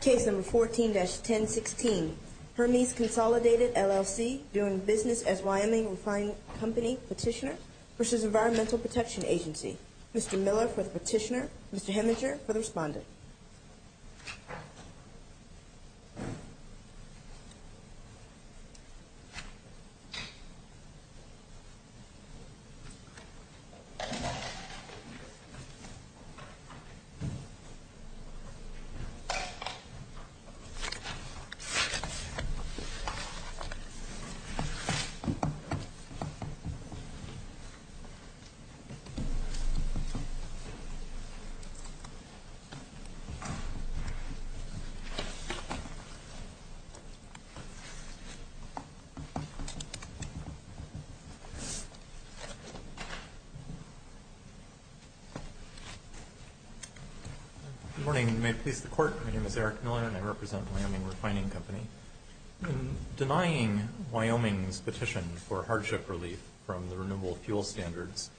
Case number 14-1016, Hermes Consolidated, LLC, doing business as Wyoming Refining Company Petitioner versus Environmental Protection Agency. Mr. Miller for the petitioner, Mr. Heminger for the respondent. Thank you. Mr. Court, my name is Eric Miller and I represent Wyoming Refining Company. In denying Wyoming's petition for hardship relief from the Renewable Fuel Standards,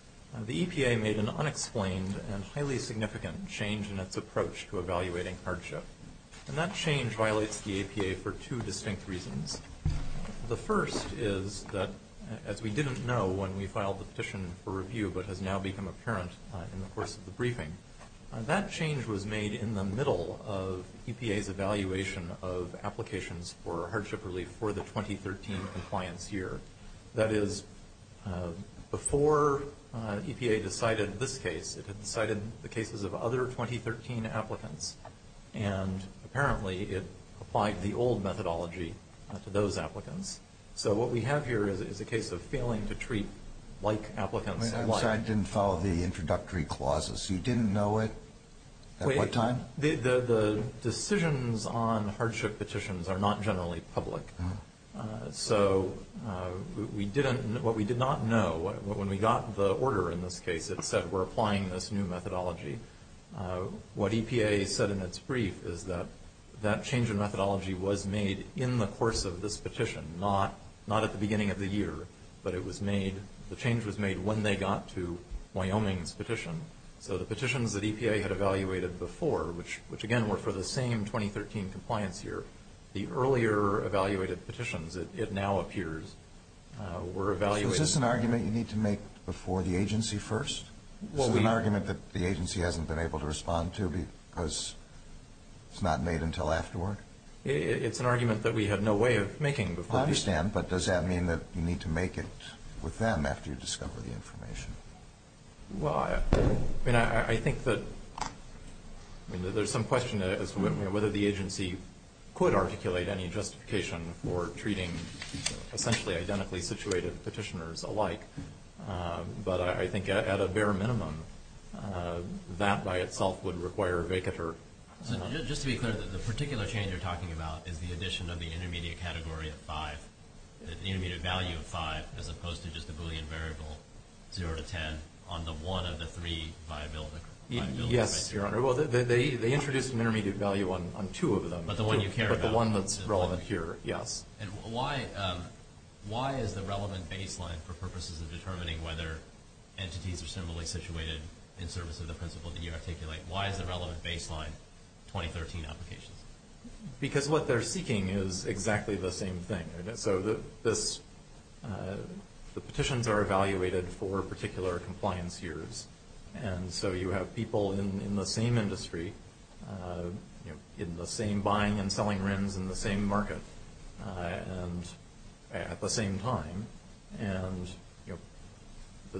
the EPA made an unexplained and highly significant change in its approach to evaluating hardship. And that change violates the EPA for two distinct reasons. The first is that, as we didn't know when we filed the petition for review but has now become apparent in the course of the briefing, that change was made in the middle of EPA's evaluation of applications for hardship relief for the 2013 compliance year. That is, before EPA decided this case, it had decided the cases of other 2013 applicants, and apparently it applied the old methodology to those applicants. So what we have here is a case of failing to treat like applicants like. I'm sorry, I didn't follow the introductory clauses. You didn't know it at what time? The decisions on hardship petitions are not generally public. So what we did not know, when we got the order in this case, it said we're applying this new methodology. What EPA said in its brief is that that change in methodology was made in the course of this petition, not at the beginning of the year, but it was made, the change was made when they got to Wyoming's petition. So the petitions that EPA had evaluated before, which, again, were for the same 2013 compliance year, the earlier evaluated petitions, it now appears, were evaluated. Is this an argument you need to make before the agency first? This is an argument that the agency hasn't been able to respond to because it's not made until afterward? It's an argument that we had no way of making before. I understand, but does that mean that you need to make it with them after you discover the information? Well, I think that there's some question as to whether the agency could articulate any justification for treating essentially identically situated petitioners alike, but I think at a bare minimum that by itself would require a vacatur. Just to be clear, the particular change you're talking about is the addition of the intermediate category of five, the intermediate value of five, as opposed to just the Boolean variable, zero to ten, on the one of the three viability criteria? Yes, Your Honor. Well, they introduced an intermediate value on two of them. But the one you care about. But the one that's relevant here, yes. And why is the relevant baseline for purposes of determining whether entities are similarly situated in service of the principle that you articulate? Why is the relevant baseline 2013 applications? Because what they're seeking is exactly the same thing. So the petitions are evaluated for particular compliance years, and so you have people in the same industry, in the same buying and selling rims, in the same market, and at the same time. And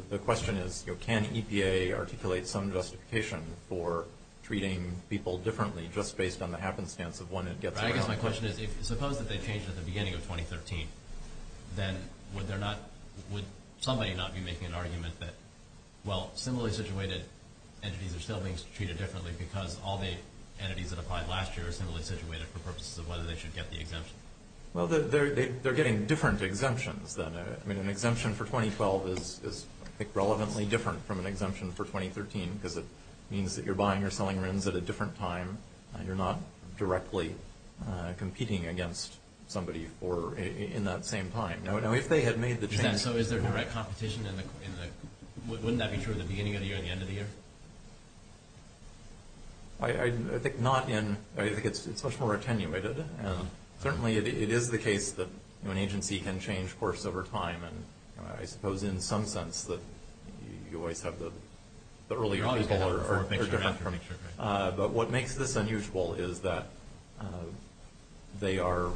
the question is, can EPA articulate some justification for treating people differently just based on the happenstance of when it gets around? I guess my question is, suppose that they changed at the beginning of 2013, then would somebody not be making an argument that, well, similarly situated entities are still being treated differently because all the entities that applied last year are similarly situated for purposes of whether they should get the exemption? Well, they're getting different exemptions then. I mean, an exemption for 2012 is, I think, relevantly different from an exemption for 2013 because it means that you're buying or selling rims at a different time, and you're not directly competing against somebody in that same time. Now, if they had made the change... So is there direct competition in the... Wouldn't that be true at the beginning of the year and the end of the year? I think not in... I think it's much more attenuated. And certainly it is the case that an agency can change course over time, and I suppose in some sense that you always have the earlier people are different. But what makes this unusual is that they are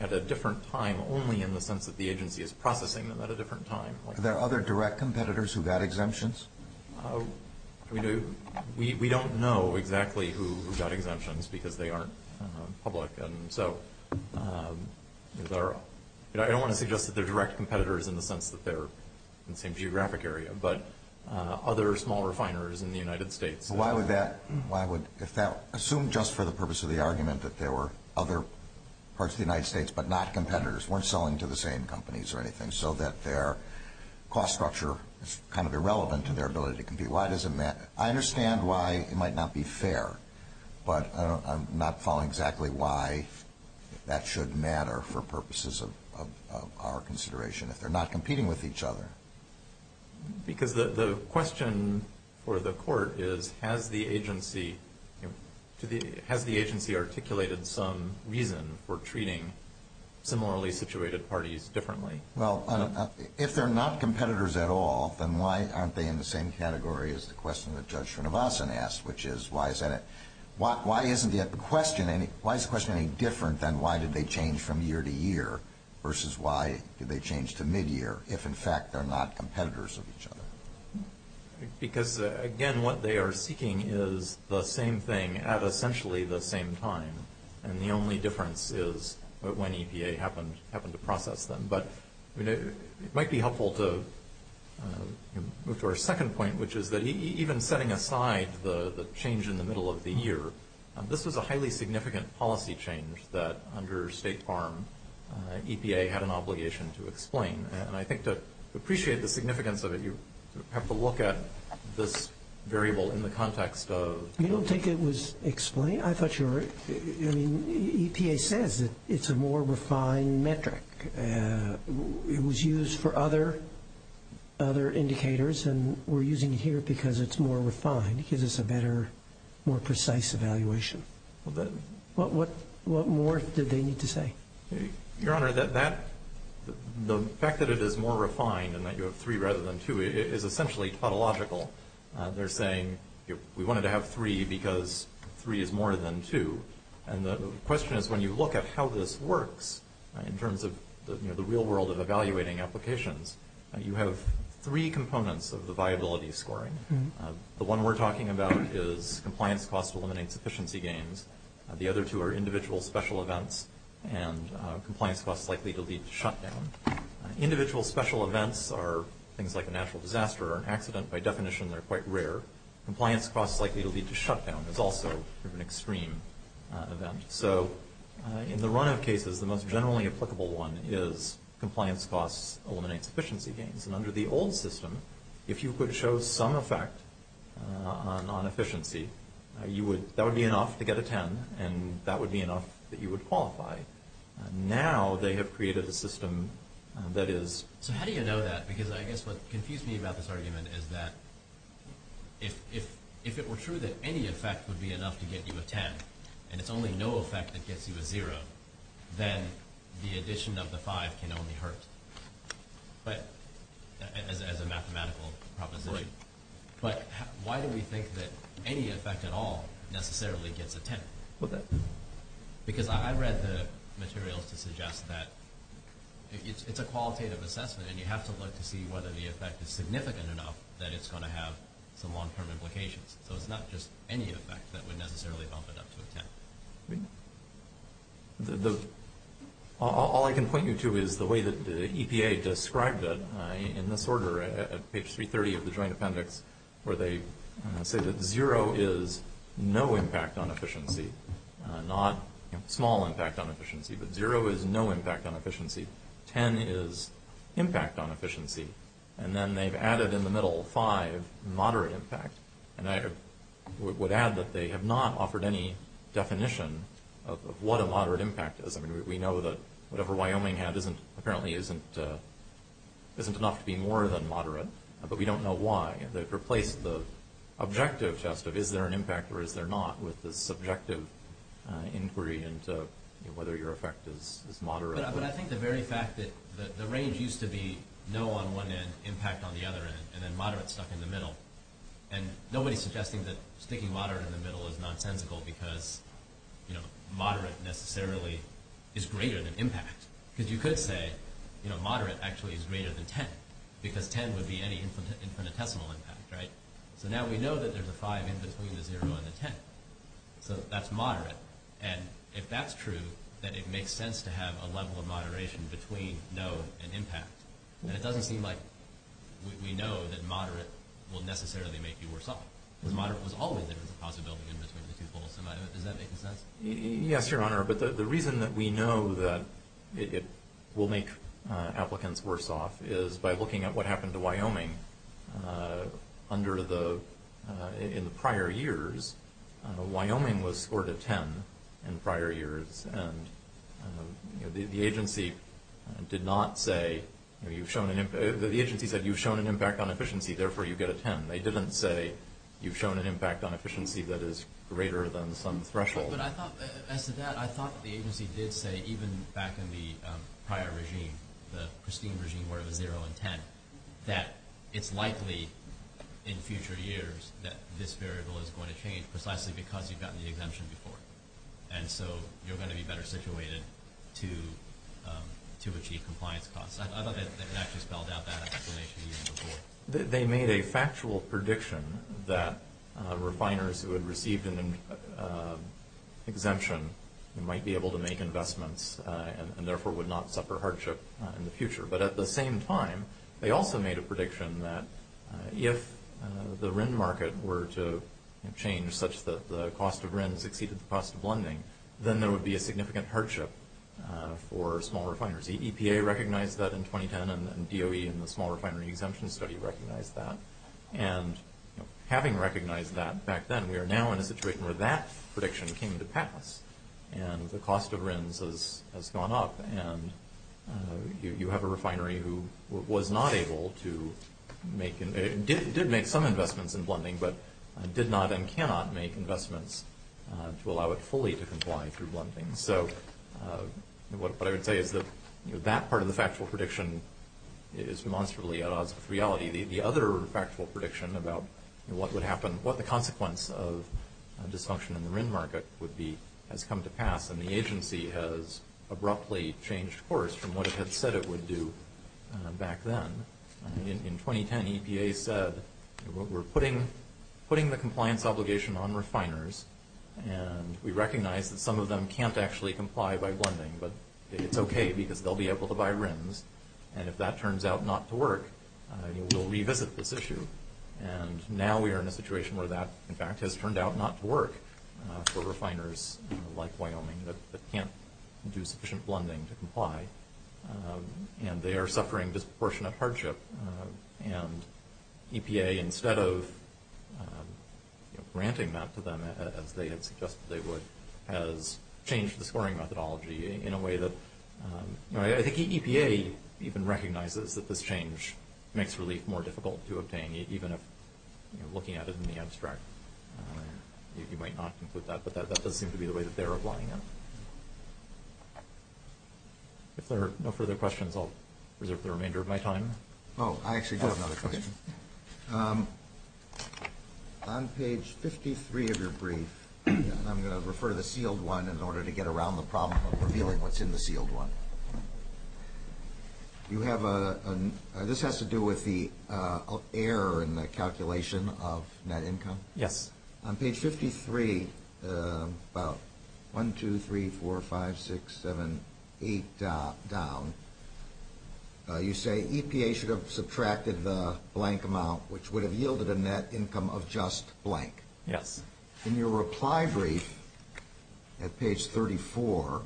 at a different time only in the sense that the agency is processing them at a different time. Are there other direct competitors who got exemptions? I mean, we don't know exactly who got exemptions because they aren't public. And so I don't want to suggest that they're direct competitors in the sense that they're in the same geographic area, but other small refiners in the United States... Why would that... Assume just for the purpose of the argument that there were other parts of the United States but not competitors, weren't selling to the same companies or anything, so that their cost structure is kind of irrelevant to their ability to compete. Why does it matter? I understand why it might not be fair, but I'm not following exactly why that should matter for purposes of our consideration if they're not competing with each other. Because the question for the court is, has the agency articulated some reason for treating similarly situated parties differently? Well, if they're not competitors at all, then why aren't they in the same category as the question that Judge Srinivasan asked, which is why isn't the question any different than why did they change from year to year versus why did they change to mid-year, if in fact they're not competitors of each other? Because, again, what they are seeking is the same thing at essentially the same time, and the only difference is when EPA happened to process them. But it might be helpful to move to our second point, which is that even setting aside the change in the middle of the year, this was a highly significant policy change that under State Farm, EPA had an obligation to explain. And I think to appreciate the significance of it, you have to look at this variable in the context of ______. You don't think it was explained? I thought you were. I mean, EPA says that it's a more refined metric. It was used for other indicators, and we're using it here because it's more refined. It gives us a better, more precise evaluation. What more did they need to say? Your Honor, the fact that it is more refined and that you have three rather than two is essentially tautological. They're saying we wanted to have three because three is more than two, and the question is when you look at how this works in terms of the real world of evaluating applications, you have three components of the viability scoring. The one we're talking about is compliance costs eliminating sufficiency gains. The other two are individual special events and compliance costs likely to lead to shutdown. Individual special events are things like a natural disaster or an accident by definition. They're quite rare. Compliance costs likely to lead to shutdown is also an extreme event. So in the run of cases, the most generally applicable one is compliance costs eliminates sufficiency gains. And under the old system, if you could show some effect on efficiency, that would be enough to get a 10, and that would be enough that you would qualify. Now they have created a system that is ______. How do you know that? Because I guess what confused me about this argument is that if it were true that any effect would be enough to get you a 10 and it's only no effect that gets you a 0, then the addition of the 5 can only hurt as a mathematical proposition. But why do we think that any effect at all necessarily gets a 10? Because I read the materials to suggest that it's a qualitative assessment and you have to look to see whether the effect is significant enough that it's going to have some long-term implications. So it's not just any effect that would necessarily bump it up to a 10. All I can point you to is the way that the EPA described it in this order at page 330 of the Joint Appendix where they said that 0 is no impact on efficiency, not small impact on efficiency, but 0 is no impact on efficiency, 10 is impact on efficiency, and then they've added in the middle 5, moderate impact. And I would add that they have not offered any definition of what a moderate impact is. We know that whatever Wyoming had apparently isn't enough to be more than moderate, but we don't know why. They've replaced the objective test of is there an impact or is there not with the subjective inquiry into whether your effect is moderate. But I think the very fact that the range used to be no on one end, impact on the other end, and then moderate stuck in the middle, and nobody's suggesting that sticking moderate in the middle is nonsensical because moderate necessarily is greater than impact. Because you could say moderate actually is greater than 10 because 10 would be any infinitesimal impact. So now we know that there's a 5 in between the 0 and the 10, so that's moderate. And if that's true, then it makes sense to have a level of moderation between no and impact. And it doesn't seem like we know that moderate will necessarily make you worse off because moderate was always there as a possibility in between the two poles. Does that make sense? Yes, Your Honor. But the reason that we know that it will make applicants worse off is by looking at what happened to Wyoming in the prior years. Wyoming was scored a 10 in prior years, and the agency said you've shown an impact on efficiency, therefore you get a 10. They didn't say you've shown an impact on efficiency that is greater than some threshold. As to that, I thought the agency did say, even back in the prior regime, the pristine regime where it was 0 and 10, that it's likely in future years that this variable is going to change precisely because you've gotten the exemption before. And so you're going to be better situated to achieve compliance costs. I thought they actually spelled out that explanation even before. They made a factual prediction that refiners who had received an exemption might be able to make investments and therefore would not suffer hardship in the future. But at the same time, they also made a prediction that if the RIN market were to change such that the cost of RINs exceeded the cost of lending, then there would be a significant hardship for small refiners. The EPA recognized that in 2010, and DOE and the Small Refinery Exemption Study recognized that. And having recognized that back then, we are now in a situation where that prediction came to pass, and the cost of RINs has gone up, and you have a refinery who was not able to make, did make some investments in blending, but did not and cannot make investments to allow it fully to comply through blending. So what I would say is that that part of the factual prediction is demonstrably at odds with reality. The other factual prediction about what would happen, what the consequence of dysfunction in the RIN market would be, has come to pass, and the agency has abruptly changed course from what it had said it would do back then. In 2010, EPA said, we're putting the compliance obligation on refiners, and we recognize that some of them can't actually comply by blending, but it's okay because they'll be able to buy RINs, and if that turns out not to work, we'll revisit this issue. And now we are in a situation where that, in fact, has turned out not to work for refiners like Wyoming that can't do sufficient blending to comply, and they are suffering disproportionate hardship. And EPA, instead of granting that to them as they had suggested they would, has changed the scoring methodology in a way that, you know, I think EPA even recognizes that this change makes relief more difficult to obtain, even if, you know, looking at it in the abstract, you might not conclude that, but that does seem to be the way that they're applying it. If there are no further questions, I'll reserve the remainder of my time. Oh, I actually do have another question. On page 53 of your brief, and I'm going to refer to the sealed one in order to get around the problem of revealing what's in the sealed one, you have a, this has to do with the error in the calculation of net income? Yes. On page 53, about 1, 2, 3, 4, 5, 6, 7, 8 down, you say EPA should have subtracted the blank amount, which would have yielded a net income of just blank. Yes. In your reply brief at page 34,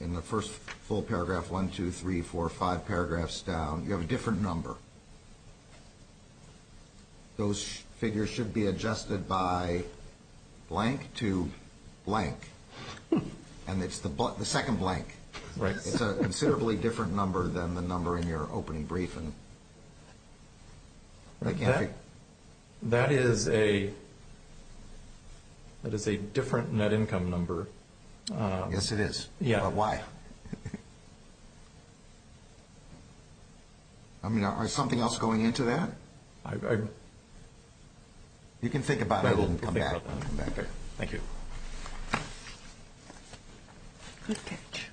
in the first full paragraph, 1, 2, 3, 4, 5 paragraphs down, you have a different number. Those figures should be adjusted by blank to blank, and it's the second blank. Right. It's a considerably different number than the number in your opening brief. That is a different net income number. Yes, it is. Yeah. But why? I don't know. I mean, is something else going into that? You can think about it and come back. I will think about that. Okay. Thank you. Good catch.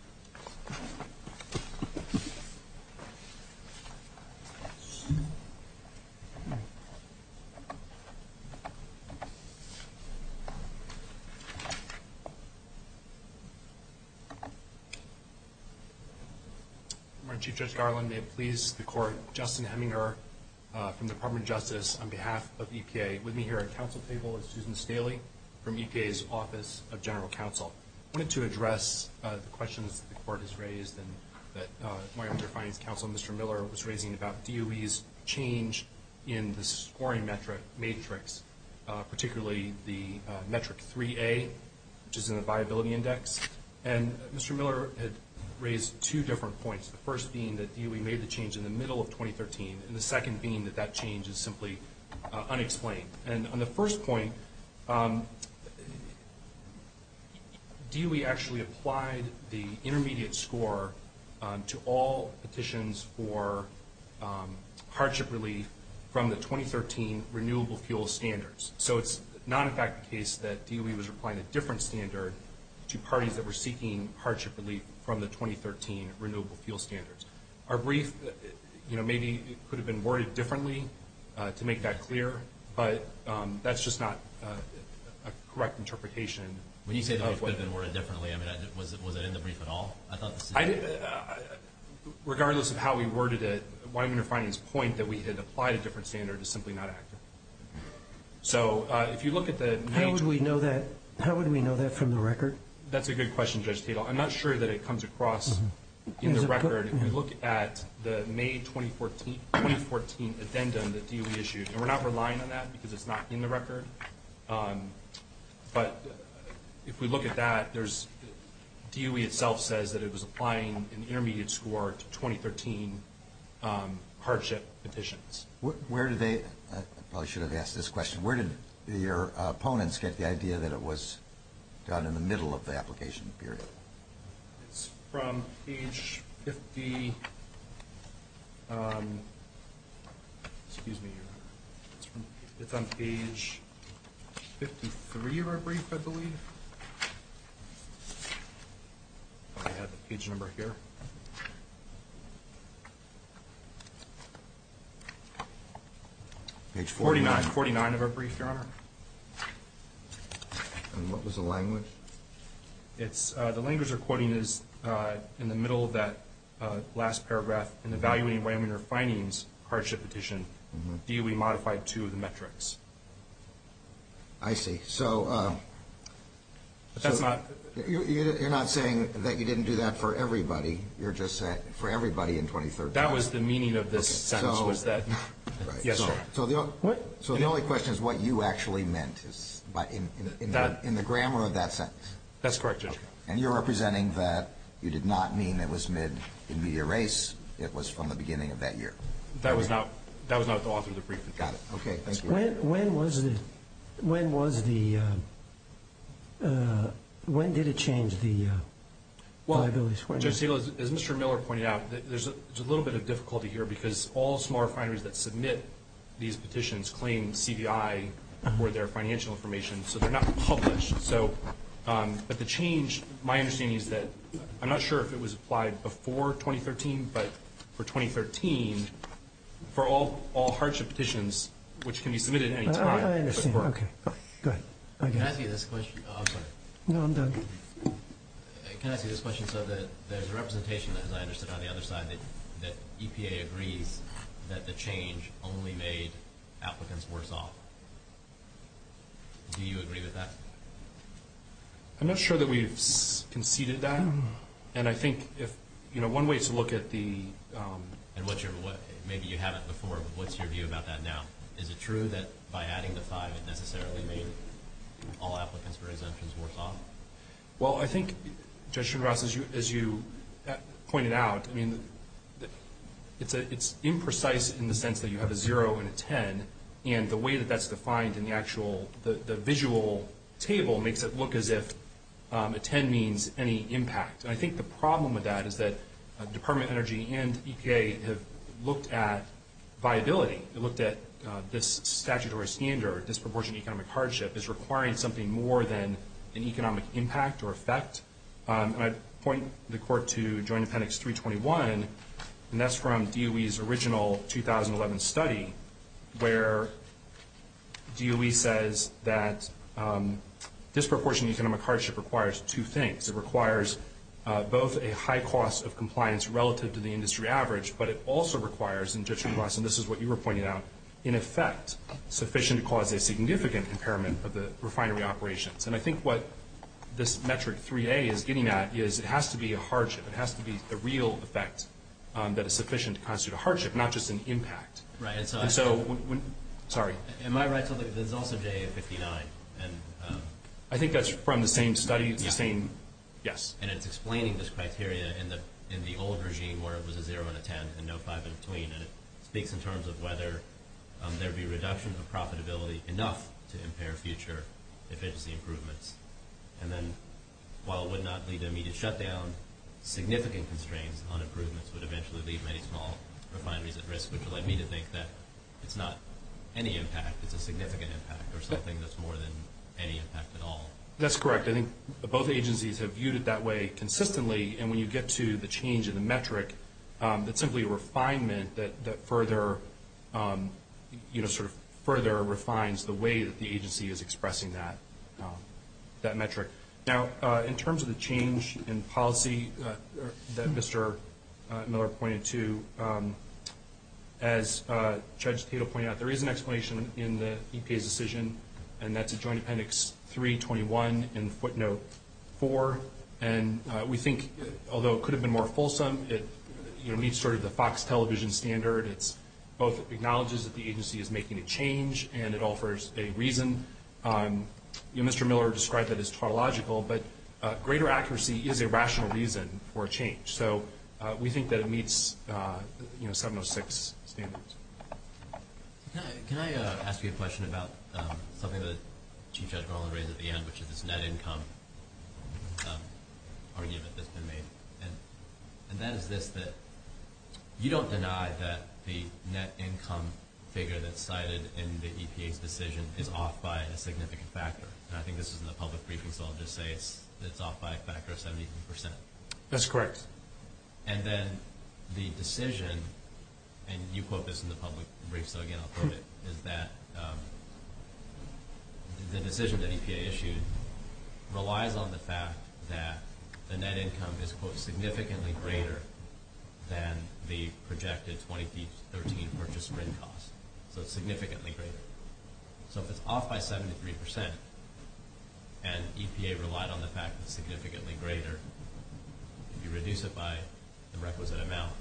Chief Judge Garland, may it please the Court, Justin Heminger from the Department of Justice on behalf of EPA, with me here at the Council table is Susan Staley from EPA's Office of General Counsel. I wanted to address the questions that the Court has raised and that my Underfinance Counsel, Mr. Miller, was raising about DOE's change in the scoring matrix, particularly the metric 3A, which is in the viability index. And Mr. Miller had raised two different points, the first being that DOE made the change in the middle of 2013, and the second being that that change is simply unexplained. And on the first point, DOE actually applied the intermediate score to all petitions for hardship relief from the 2013 Renewable Fuel Standards. So it's not, in fact, the case that DOE was applying a different standard to parties that were seeking hardship relief from the 2013 Renewable Fuel Standards. Our brief, you know, maybe it could have been worded differently to make that clear, but that's just not a correct interpretation. When you say the brief could have been worded differently, I mean, was it in the brief at all? Regardless of how we worded it, my Underfinance point that we had applied a different standard is simply not accurate. So if you look at the nature of the— How would we know that from the record? That's a good question, Judge Tatel. I'm not sure that it comes across in the record. If you look at the May 2014 addenda that DOE issued, and we're not relying on that because it's not in the record, but if we look at that, DOE itself says that it was applying an intermediate score to 2013 hardship petitions. Where did they—I probably should have asked this question. Where did your opponents get the idea that it was done in the middle of the application period? It's from page 50— Excuse me. It's on page 53 of our brief, I believe. I have the page number here. Page 49. 49 of our brief, Your Honor. And what was the language? The language they're quoting is in the middle of that last paragraph, in evaluating Wyoming Underfining's hardship petition, DOE modified two of the metrics. I see. So— That's not— You're not saying that you didn't do that for everybody. You're just saying for everybody in 2013. That was the meaning of this sentence was that— So the only question is what you actually meant in the grammar of that sentence. That's correct, Judge. And you're representing that you did not mean it was mid-intermediate race. It was from the beginning of that year. That was not the author of the brief. Got it. Okay, thank you. When was the—when did it change the liabilities for— Well, Judge Segal, as Mr. Miller pointed out, there's a little bit of difficulty here because all small refineries that submit these petitions claim CDI for their financial information, so they're not published. But the change, my understanding is that—I'm not sure if it was applied before 2013, but for 2013, for all hardship petitions, which can be submitted at any time— I understand. Okay. Go ahead. Can I ask you this question? I'm sorry. No, I'm done. Can I ask you this question? So that there's a representation, as I understood on the other side, that EPA agrees that the change only made applicants worse off. Do you agree with that? I'm not sure that we've conceded that. And I think if—you know, one way is to look at the— Maybe you haven't before, but what's your view about that now? Is it true that by adding the 5, it necessarily made all applicants for exemptions worse off? Well, I think, Judge Schenross, as you pointed out, I mean, it's imprecise in the sense that you have a 0 and a 10, and the way that that's defined in the actual—the visual table makes it look as if a 10 means any impact, and I think the problem with that is that Department of Energy and EPA have looked at viability. They looked at this statutory standard, disproportionate economic hardship, as requiring something more than an economic impact or effect. And I'd point the Court to Joint Appendix 321, and that's from DOE's original 2011 study, where DOE says that disproportionate economic hardship requires two things. It requires both a high cost of compliance relative to the industry average, but it also requires, and Judge Schenross, and this is what you were pointing out, in effect sufficient to cause a significant impairment of the refinery operations. And I think what this metric 3A is getting at is it has to be a hardship. It has to be a real effect that is sufficient to constitute a hardship, not just an impact. Right, and so— And so—sorry. Am I right to think that there's also JA-59? I think that's from the same study, the same—yes. And it's explaining this criteria in the old regime where it was a 0 and a 10 and no 5 in between, and it speaks in terms of whether there would be a reduction of profitability enough to impair future efficiency improvements. And then while it would not lead to immediate shutdown, significant constraints on improvements would eventually leave many small refineries at risk, which would lead me to think that it's not any impact, it's a significant impact or something that's more than any impact at all. That's correct. I think both agencies have viewed it that way consistently, and when you get to the change in the metric, it's simply a refinement that further, you know, sort of further refines the way that the agency is expressing that metric. Now, in terms of the change in policy that Mr. Miller pointed to, as Judge Tatel pointed out, there is an explanation in the EPA's decision, and that's at Joint Appendix 321 in footnote 4. And we think, although it could have been more fulsome, it meets sort of the Fox television standard. It both acknowledges that the agency is making a change and it offers a reason. Mr. Miller described that as tautological, but greater accuracy is a rational reason for a change. So we think that it meets, you know, 706 standards. Can I ask you a question about something that Chief Judge Garland raised at the end, which is this net income argument that's been made? And that is this, that you don't deny that the net income figure that's cited in the EPA's decision is off by a significant factor. And I think this is in the public briefing, so I'll just say it's off by a factor of 71%. That's correct. And then the decision, and you quote this in the public brief, so again I'll quote it, is that the decision that EPA issued relies on the fact that the net income is, quote, significantly greater than the projected 2013 purchase rent cost. So it's significantly greater. So if it's off by 73% and EPA relied on the fact that it's significantly greater, if you reduce it by the requisite amount,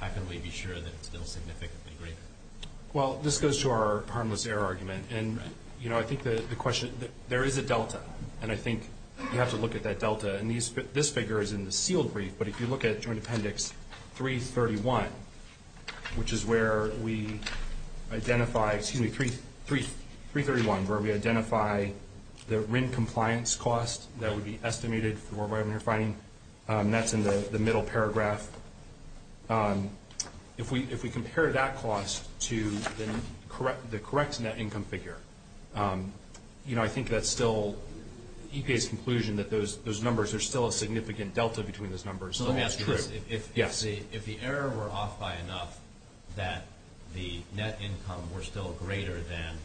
how can we be sure that it's still significantly greater? Well, this goes to our harmless error argument, and, you know, I think the question, there is a delta, and I think you have to look at that delta. And this figure is in the sealed brief, but if you look at Joint Appendix 331, which is where we identify, excuse me, 331, where we identify the rent compliance cost that would be estimated for the worldwide rent refining, that's in the middle paragraph. If we compare that cost to the correct net income figure, you know, I think that's still EPA's conclusion that those numbers, there's still a significant delta between those numbers. So let me ask you this. Yes. If the error were off by enough that the net income were still greater than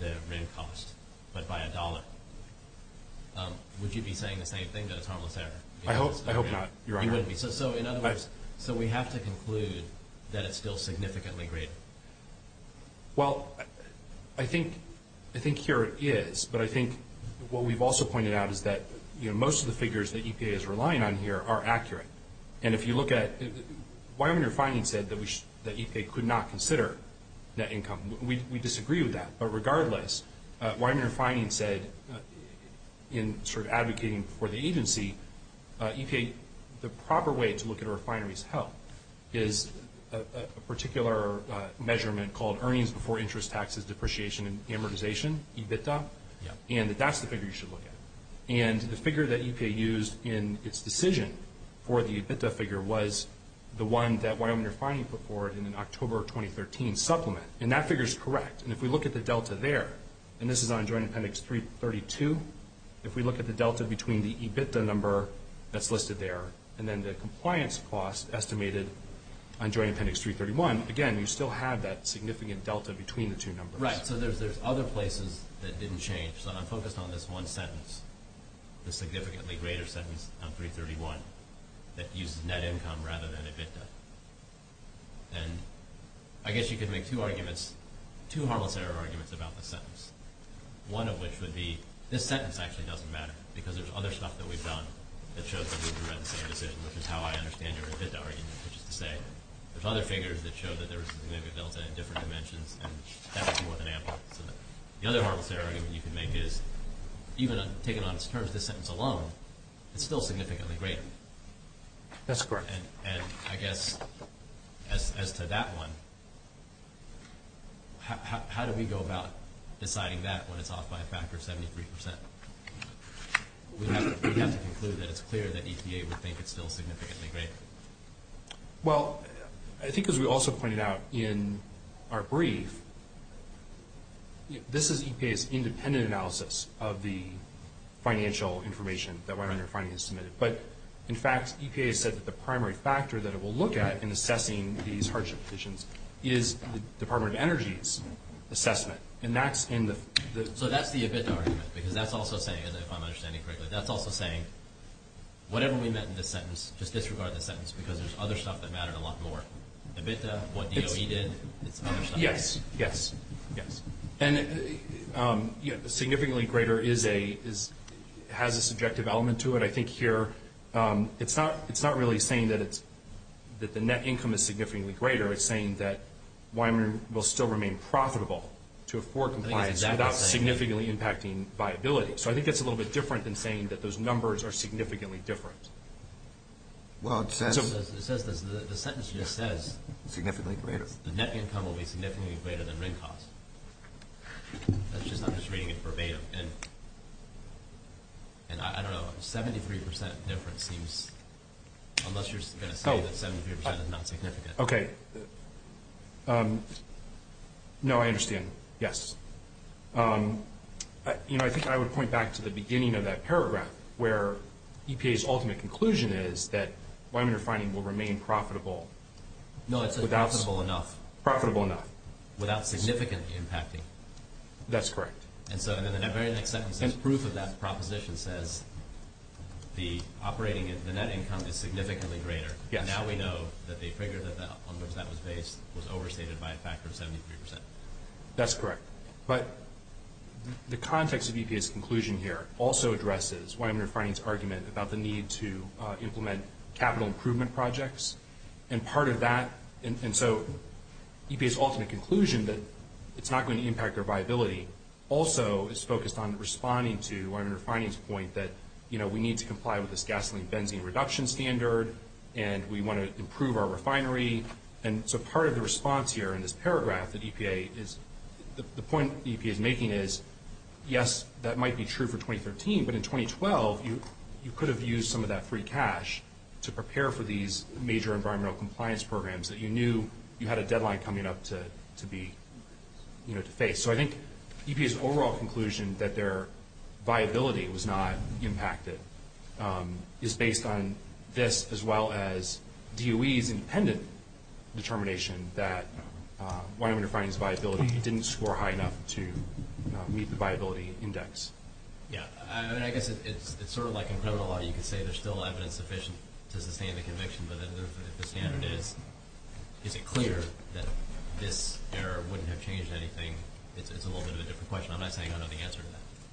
the rent cost, but by a dollar, would you be saying the same thing, that it's harmless error? I hope not, Your Honor. You wouldn't be. So in other words, so we have to conclude that it's still significantly greater. Well, I think here it is, but I think what we've also pointed out is that, you know, most of the figures that EPA is relying on here are accurate. And if you look at, Wyoming Refining said that EPA could not consider net income. We disagree with that. But regardless, Wyoming Refining said in sort of advocating for the agency, EPA, the proper way to look at a refinery's health is a particular measurement called Earnings Before Interest Taxes Depreciation and Amortization, EBITDA, and that that's the figure you should look at. And the figure that EPA used in its decision for the EBITDA figure was the one that Wyoming Refining put forward in an October of 2013 supplement. And that figure is correct. And if we look at the delta there, and this is on Joint Appendix 332, if we look at the delta between the EBITDA number that's listed there and then the compliance cost estimated on Joint Appendix 331, again, you still have that significant delta between the two numbers. Right. So there's other places that didn't change. So I'm focused on this one sentence, the significantly greater sentence on 331, that uses net income rather than EBITDA. And I guess you could make two arguments, two harmless error arguments about the sentence, one of which would be this sentence actually doesn't matter because there's other stuff that we've done that shows that we've read the same decision, which is how I understand your EBITDA argument, which is to say there's other figures that show that there was maybe a delta in different dimensions and that was more than ample. So the other harmless error argument you can make is, even taken on its terms, this sentence alone is still significantly greater. That's correct. And I guess as to that one, how do we go about deciding that when it's off by a factor of 73%? We'd have to conclude that it's clear that EPA would think it's still significantly greater. Well, I think as we also pointed out in our brief, this is EPA's independent analysis of the financial information that went under Finance Submitted. But, in fact, EPA said that the primary factor that it will look at in assessing these hardship positions is the Department of Energy's assessment. So that's the EBITDA argument because that's also saying, if I'm understanding correctly, but that's also saying whatever we meant in this sentence, just disregard this sentence because there's other stuff that mattered a lot more. EBITDA, what DOE did, it's other stuff. Yes, yes, yes. And significantly greater has a subjective element to it. I think here it's not really saying that the net income is significantly greater. It's saying that Weimaraner will still remain profitable to afford compliance without significantly impacting viability. So I think that's a little bit different than saying that those numbers are significantly different. Well, it says the sentence just says significantly greater. The net income will be significantly greater than rent cost. That's just not just reading it verbatim. And I don't know, 73% difference seems, unless you're going to say that 73% is not significant. Okay. No, I understand. Yes. You know, I think I would point back to the beginning of that paragraph where EPA's ultimate conclusion is that Weimaraner finding will remain profitable. No, it says profitable enough. Profitable enough. Without significantly impacting. That's correct. And so in the very next sentence, the proof of that proposition says the operating, the net income is significantly greater. Yes. Now we know that they figured that the numbers that was based was overstated by a factor of 73%. That's correct. But the context of EPA's conclusion here also addresses Weimaraner finding's argument about the need to implement capital improvement projects. And part of that, and so EPA's ultimate conclusion that it's not going to impact our viability also is focused on responding to Weimaraner finding's point that, you know, we need to comply with this gasoline-benzene reduction standard, and we want to improve our refinery. And so part of the response here in this paragraph that EPA is, the point EPA is making is, yes, that might be true for 2013, but in 2012 you could have used some of that free cash to prepare for these major environmental compliance programs that you knew you had a deadline coming up to be, you know, to face. So I think EPA's overall conclusion that their viability was not impacted is based on this as well as DOE's independent determination that Weimaraner finding's viability didn't score high enough to meet the viability index. Yeah. I mean, I guess it's sort of like in criminal law you could say there's still evidence sufficient to sustain the conviction, but if the standard is, is it clear that this error wouldn't have changed anything, it's a little bit of a different question. I'm not saying I know the answer to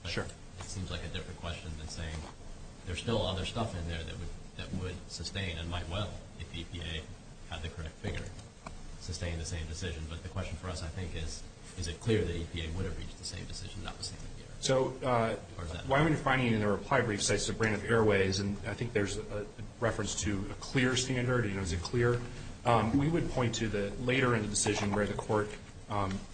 that. Sure. It seems like a different question than saying there's still other stuff in there that would sustain and might well, if EPA had the correct figure, sustain the same decision. But the question for us, I think, is, is it clear that EPA would have reached the same decision, not the same error? So Weimaraner finding in their reply brief says it's a brand of airways, and I think there's a reference to a clear standard. You know, is it clear? We would point to the later in the decision where the court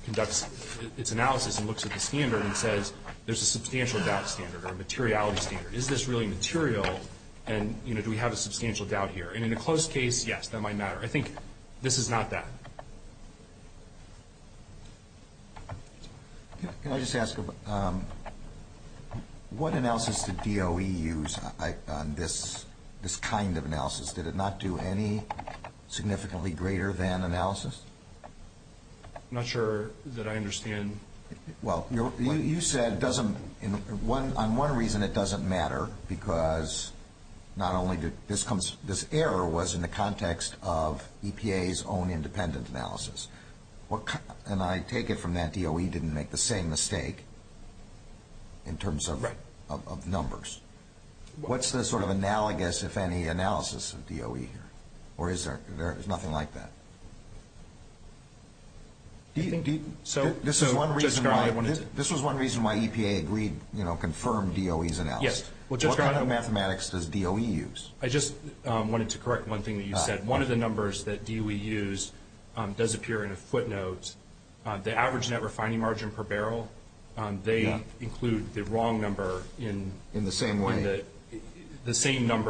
conducts its analysis and looks at the standard and says there's a substantial doubt standard or a materiality standard. Is this really material, and, you know, do we have a substantial doubt here? And in a closed case, yes, that might matter. I think this is not that. Can I just ask, what analysis did DOE use on this kind of analysis? Did it not do any significantly greater than analysis? I'm not sure that I understand. Well, you said it doesn't, on one reason it doesn't matter, because not only did this error was in the context of EPA's own independent analysis, and I take it from that DOE didn't make the same mistake in terms of numbers. What's the sort of analogous, if any, analysis of DOE here? Or is there nothing like that? This was one reason why EPA agreed, you know, confirmed DOE's analysis. Yes. What kind of mathematics does DOE use? I just wanted to correct one thing that you said. One of the numbers that DOE used does appear in a footnote. The average net refining margin per barrel, they include the wrong number in the same number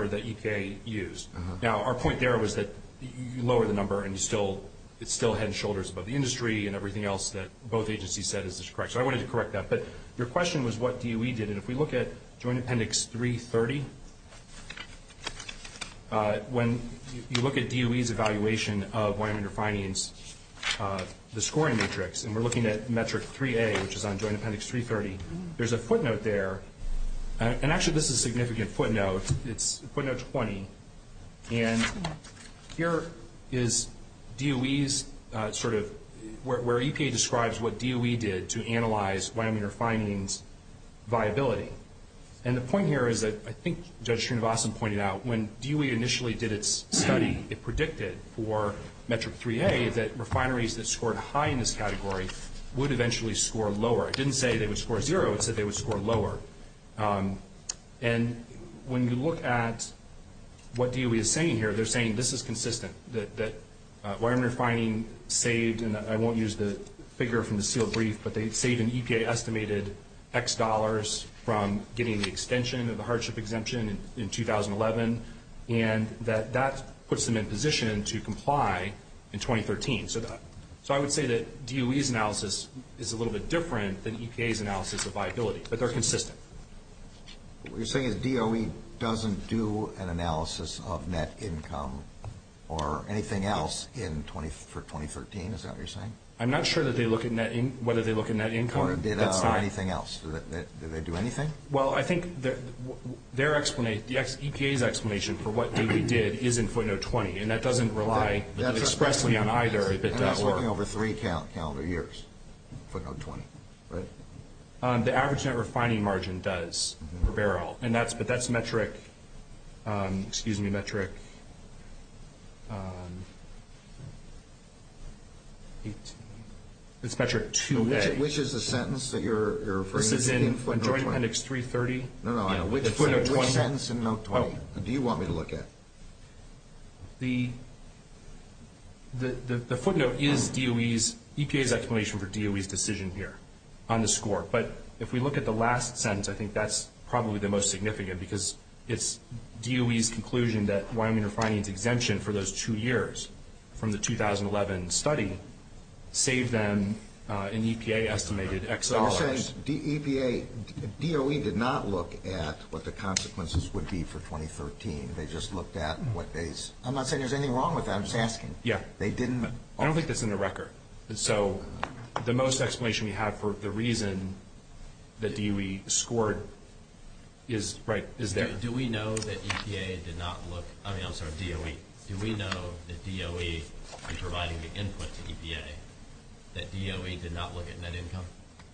that EPA used. Now, our point there was that you lower the number and it's still head and shoulders above the industry and everything else that both agencies said is just correct. So I wanted to correct that. But your question was what DOE did, and if we look at Joint Appendix 330, when you look at DOE's evaluation of winemaker finings, the scoring matrix, and we're looking at metric 3A, which is on Joint Appendix 330, there's a footnote there. And actually, this is a significant footnote. It's footnote 20. And here is DOE's sort of where EPA describes what DOE did to analyze winemaker finings' viability. And the point here is that I think Judge Srinivasan pointed out when DOE initially did its study, it predicted for metric 3A that refineries that scored high in this category would eventually score lower. It didn't say they would score zero. It said they would score lower. And when you look at what DOE is saying here, they're saying this is consistent, that winemaker finings saved, and I won't use the figure from the sealed brief, but they saved an EPA-estimated X dollars from getting the extension of the hardship exemption in 2011, and that that puts them in position to comply in 2013. So I would say that DOE's analysis is a little bit different than EPA's analysis of viability, but they're consistent. What you're saying is DOE doesn't do an analysis of net income or anything else for 2013? Is that what you're saying? I'm not sure whether they look at net income. Or data or anything else. Do they do anything? Well, I think EPA's explanation for what DOE did is in footnote 20, and that doesn't rely expressly on either if it does work. Working over three calendar years, footnote 20, right? The average net refining margin does for barrel, but that's metric, excuse me, it's metric 2A. Which is the sentence that you're referring to in footnote 20? This is in joint appendix 330. No, no, which sentence in note 20 do you want me to look at? The footnote is EPA's explanation for DOE's decision here on the score. But if we look at the last sentence, I think that's probably the most significant because it's DOE's conclusion that Wyoming refining's exemption for those two years from the 2011 study saved them an EPA-estimated X dollars. You're saying EPA, DOE did not look at what the consequences would be for 2013. They just looked at what they... I'm not saying there's anything wrong with that, I'm just asking. Yeah. They didn't... I don't think that's in the record. So the most explanation we have for the reason that DOE scored is there. Do we know that EPA did not look, I mean, I'm sorry, DOE. Do we know that DOE, in providing the input to EPA, that DOE did not look at net income?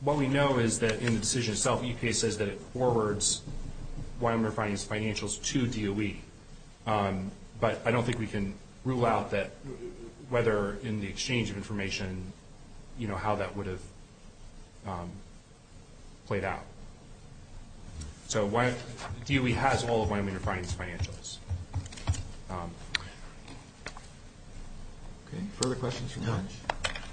What we know is that in the decision itself, EPA says that it forwards Wyoming refining's financials to DOE. But I don't think we can rule out that whether in the exchange of information, you know, how that would have played out. So DOE has all of Wyoming refining's financials. Okay, further questions from the bench?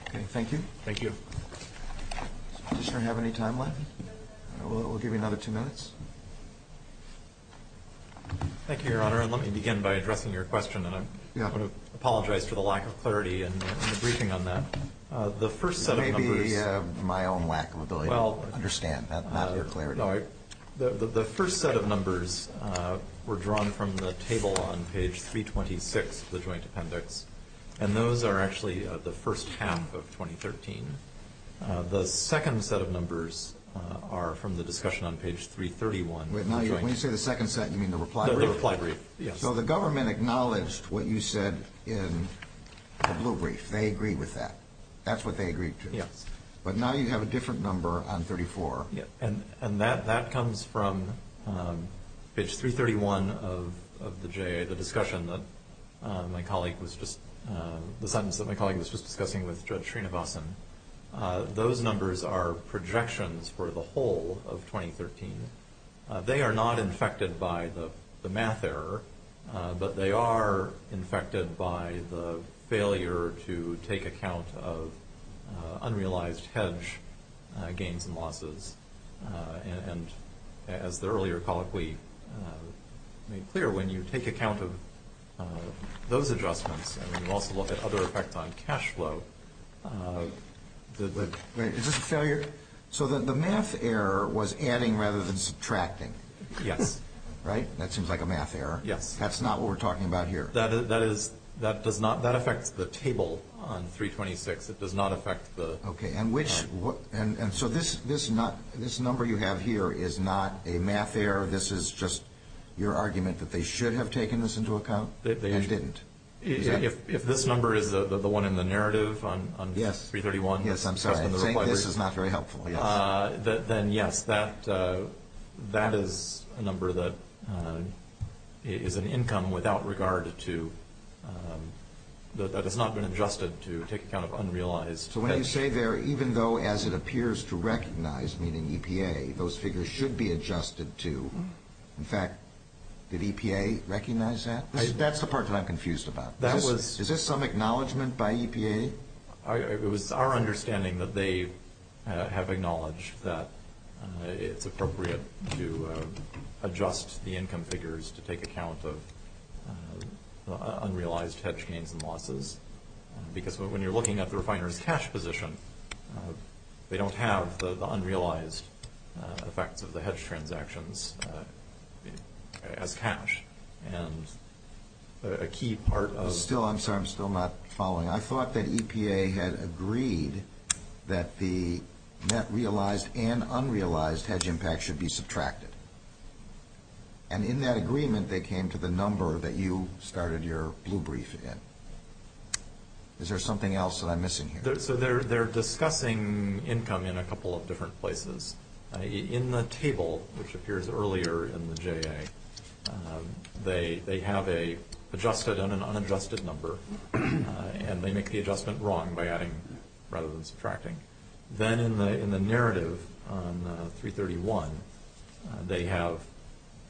Okay, thank you. Does the petitioner have any time left? We'll give you another two minutes. Thank you, Your Honor, and let me begin by addressing your question. And I want to apologize for the lack of clarity in the briefing on that. The first set of numbers... Maybe my own lack of ability to understand, not your clarity. The first set of numbers were drawn from the table on page 326 of the joint appendix, and those are actually the first half of 2013. The second set of numbers are from the discussion on page 331. When you say the second set, you mean the reply brief? The reply brief, yes. So the government acknowledged what you said in the blue brief. They agreed with that. That's what they agreed to. Yes. But now you have a different number on 34. And that comes from page 331 of the discussion that my colleague was just... the sentence that my colleague was just discussing with Judge Srinivasan. Those numbers are projections for the whole of 2013. They are not infected by the math error, but they are infected by the failure to take account of unrealized hedge gains and losses. And as the earlier colleague made clear, when you take account of those adjustments and you also look at other effects on cash flow... Is this a failure? So the math error was adding rather than subtracting. Yes. Right? That seems like a math error. Yes. That's not what we're talking about here. That affects the table on 326. It does not affect the... Okay. And so this number you have here is not a math error? This is just your argument that they should have taken this into account and didn't? If this number is the one in the narrative on 331... That's helpful, yes. Then, yes, that is a number that is an income without regard to... that has not been adjusted to take account of unrealized hedge... So when you say there, even though as it appears to recognize, meaning EPA, those figures should be adjusted to... in fact, did EPA recognize that? That's the part that I'm confused about. That was... Is this some acknowledgement by EPA? It was our understanding that they have acknowledged that it's appropriate to adjust the income figures to take account of unrealized hedge gains and losses because when you're looking at the refiner's cash position, they don't have the unrealized effects of the hedge transactions as cash. And a key part of... I'm sorry, I'm still not following. I thought that EPA had agreed that the net realized and unrealized hedge impact should be subtracted. And in that agreement, they came to the number that you started your blue brief in. Is there something else that I'm missing here? So they're discussing income in a couple of different places. In the table, which appears earlier in the JA, they have an adjusted and an unadjusted number. And they make the adjustment wrong by adding rather than subtracting. Then in the narrative on 331, they have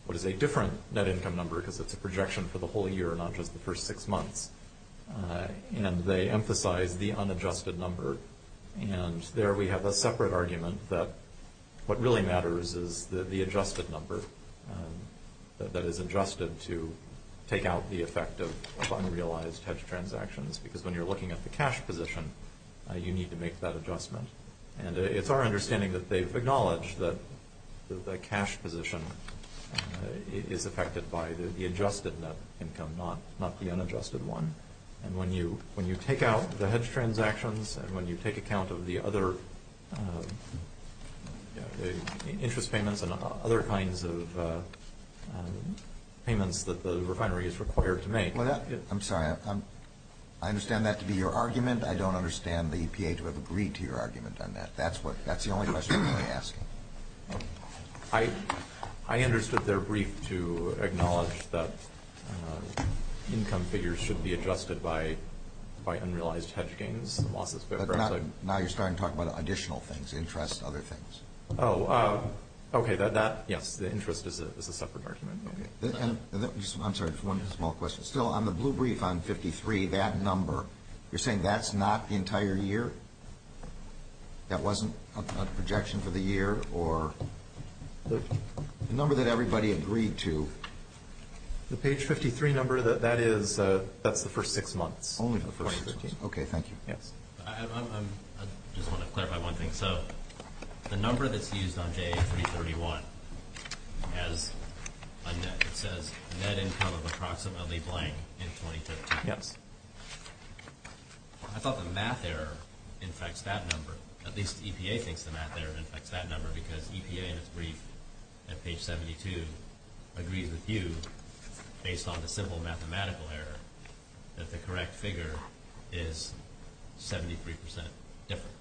what is a different net income number because it's a projection for the whole year, not just the first six months. And they emphasize the unadjusted number. And there we have a separate argument that what really matters is the adjusted number that is adjusted to take out the effect of unrealized hedge transactions because when you're looking at the cash position, you need to make that adjustment. And it's our understanding that they've acknowledged that the cash position is affected by the adjusted net income, not the unadjusted one. And when you take out the hedge transactions and when you take account of the other interest payments and other kinds of payments that the refinery is required to make. I'm sorry. I understand that to be your argument. I don't understand the EPA to have agreed to your argument on that. That's the only question I'm really asking. I understood their brief to acknowledge that income figures should be adjusted by unrealized hedge gains. Now you're starting to talk about additional things, interest, other things. Oh, okay. Yes, the interest is a separate argument. I'm sorry. One small question. Still, on the blue brief on 53, that number, you're saying that's not the entire year? That wasn't a projection for the year or the number that everybody agreed to? The page 53 number, that's the first six months. Only the first six months. Okay, thank you. Yes. I just want to clarify one thing. So the number that's used on JA-331 as a net, it says net income of approximately blank in 2015. Yes. I thought the math error infects that number. At least EPA thinks the math error infects that number because EPA in its brief at page 72 agrees with you based on the simple mathematical error that the correct figure is 73% different.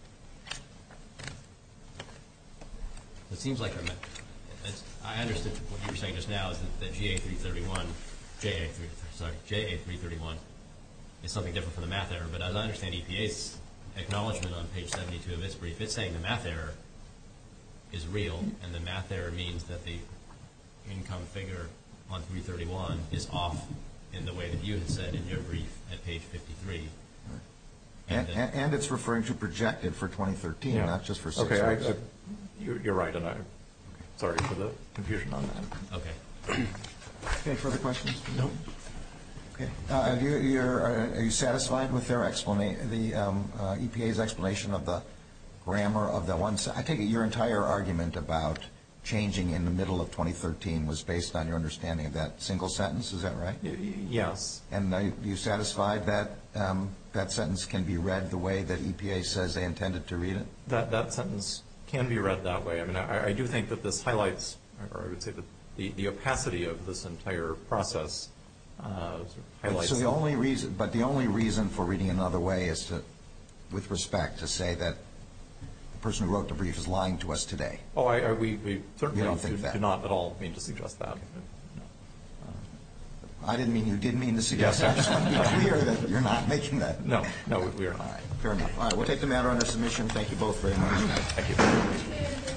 It seems like what you were saying just now is that JA-331 is something different from the math error, but as I understand EPA's acknowledgment on page 72 of its brief, it's saying the math error is real and the math error means that the income figure on 331 is off in the way that you had said in your brief at page 53. And it's referring to projected for 2013, not just for six months. You're right, and I'm sorry for the confusion on that. Okay. Any further questions? No. Okay. Are you satisfied with the EPA's explanation of the grammar of that one? I take it your entire argument about changing in the middle of 2013 was based on your understanding of that single sentence. Is that right? Yes. And are you satisfied that that sentence can be read the way that EPA says they intended to read it? That sentence can be read that way. I mean, I do think that this highlights, or I would say the opacity of this entire process highlights that. But the only reason for reading it another way is to, with respect, to say that the person who wrote the brief is lying to us today. We certainly do not at all mean to suggest that. I didn't mean you did mean to suggest that. I just want to be clear that you're not making that. No, we are not. Fair enough. All right, we'll take the matter under submission. Thank you both very much. Thank you.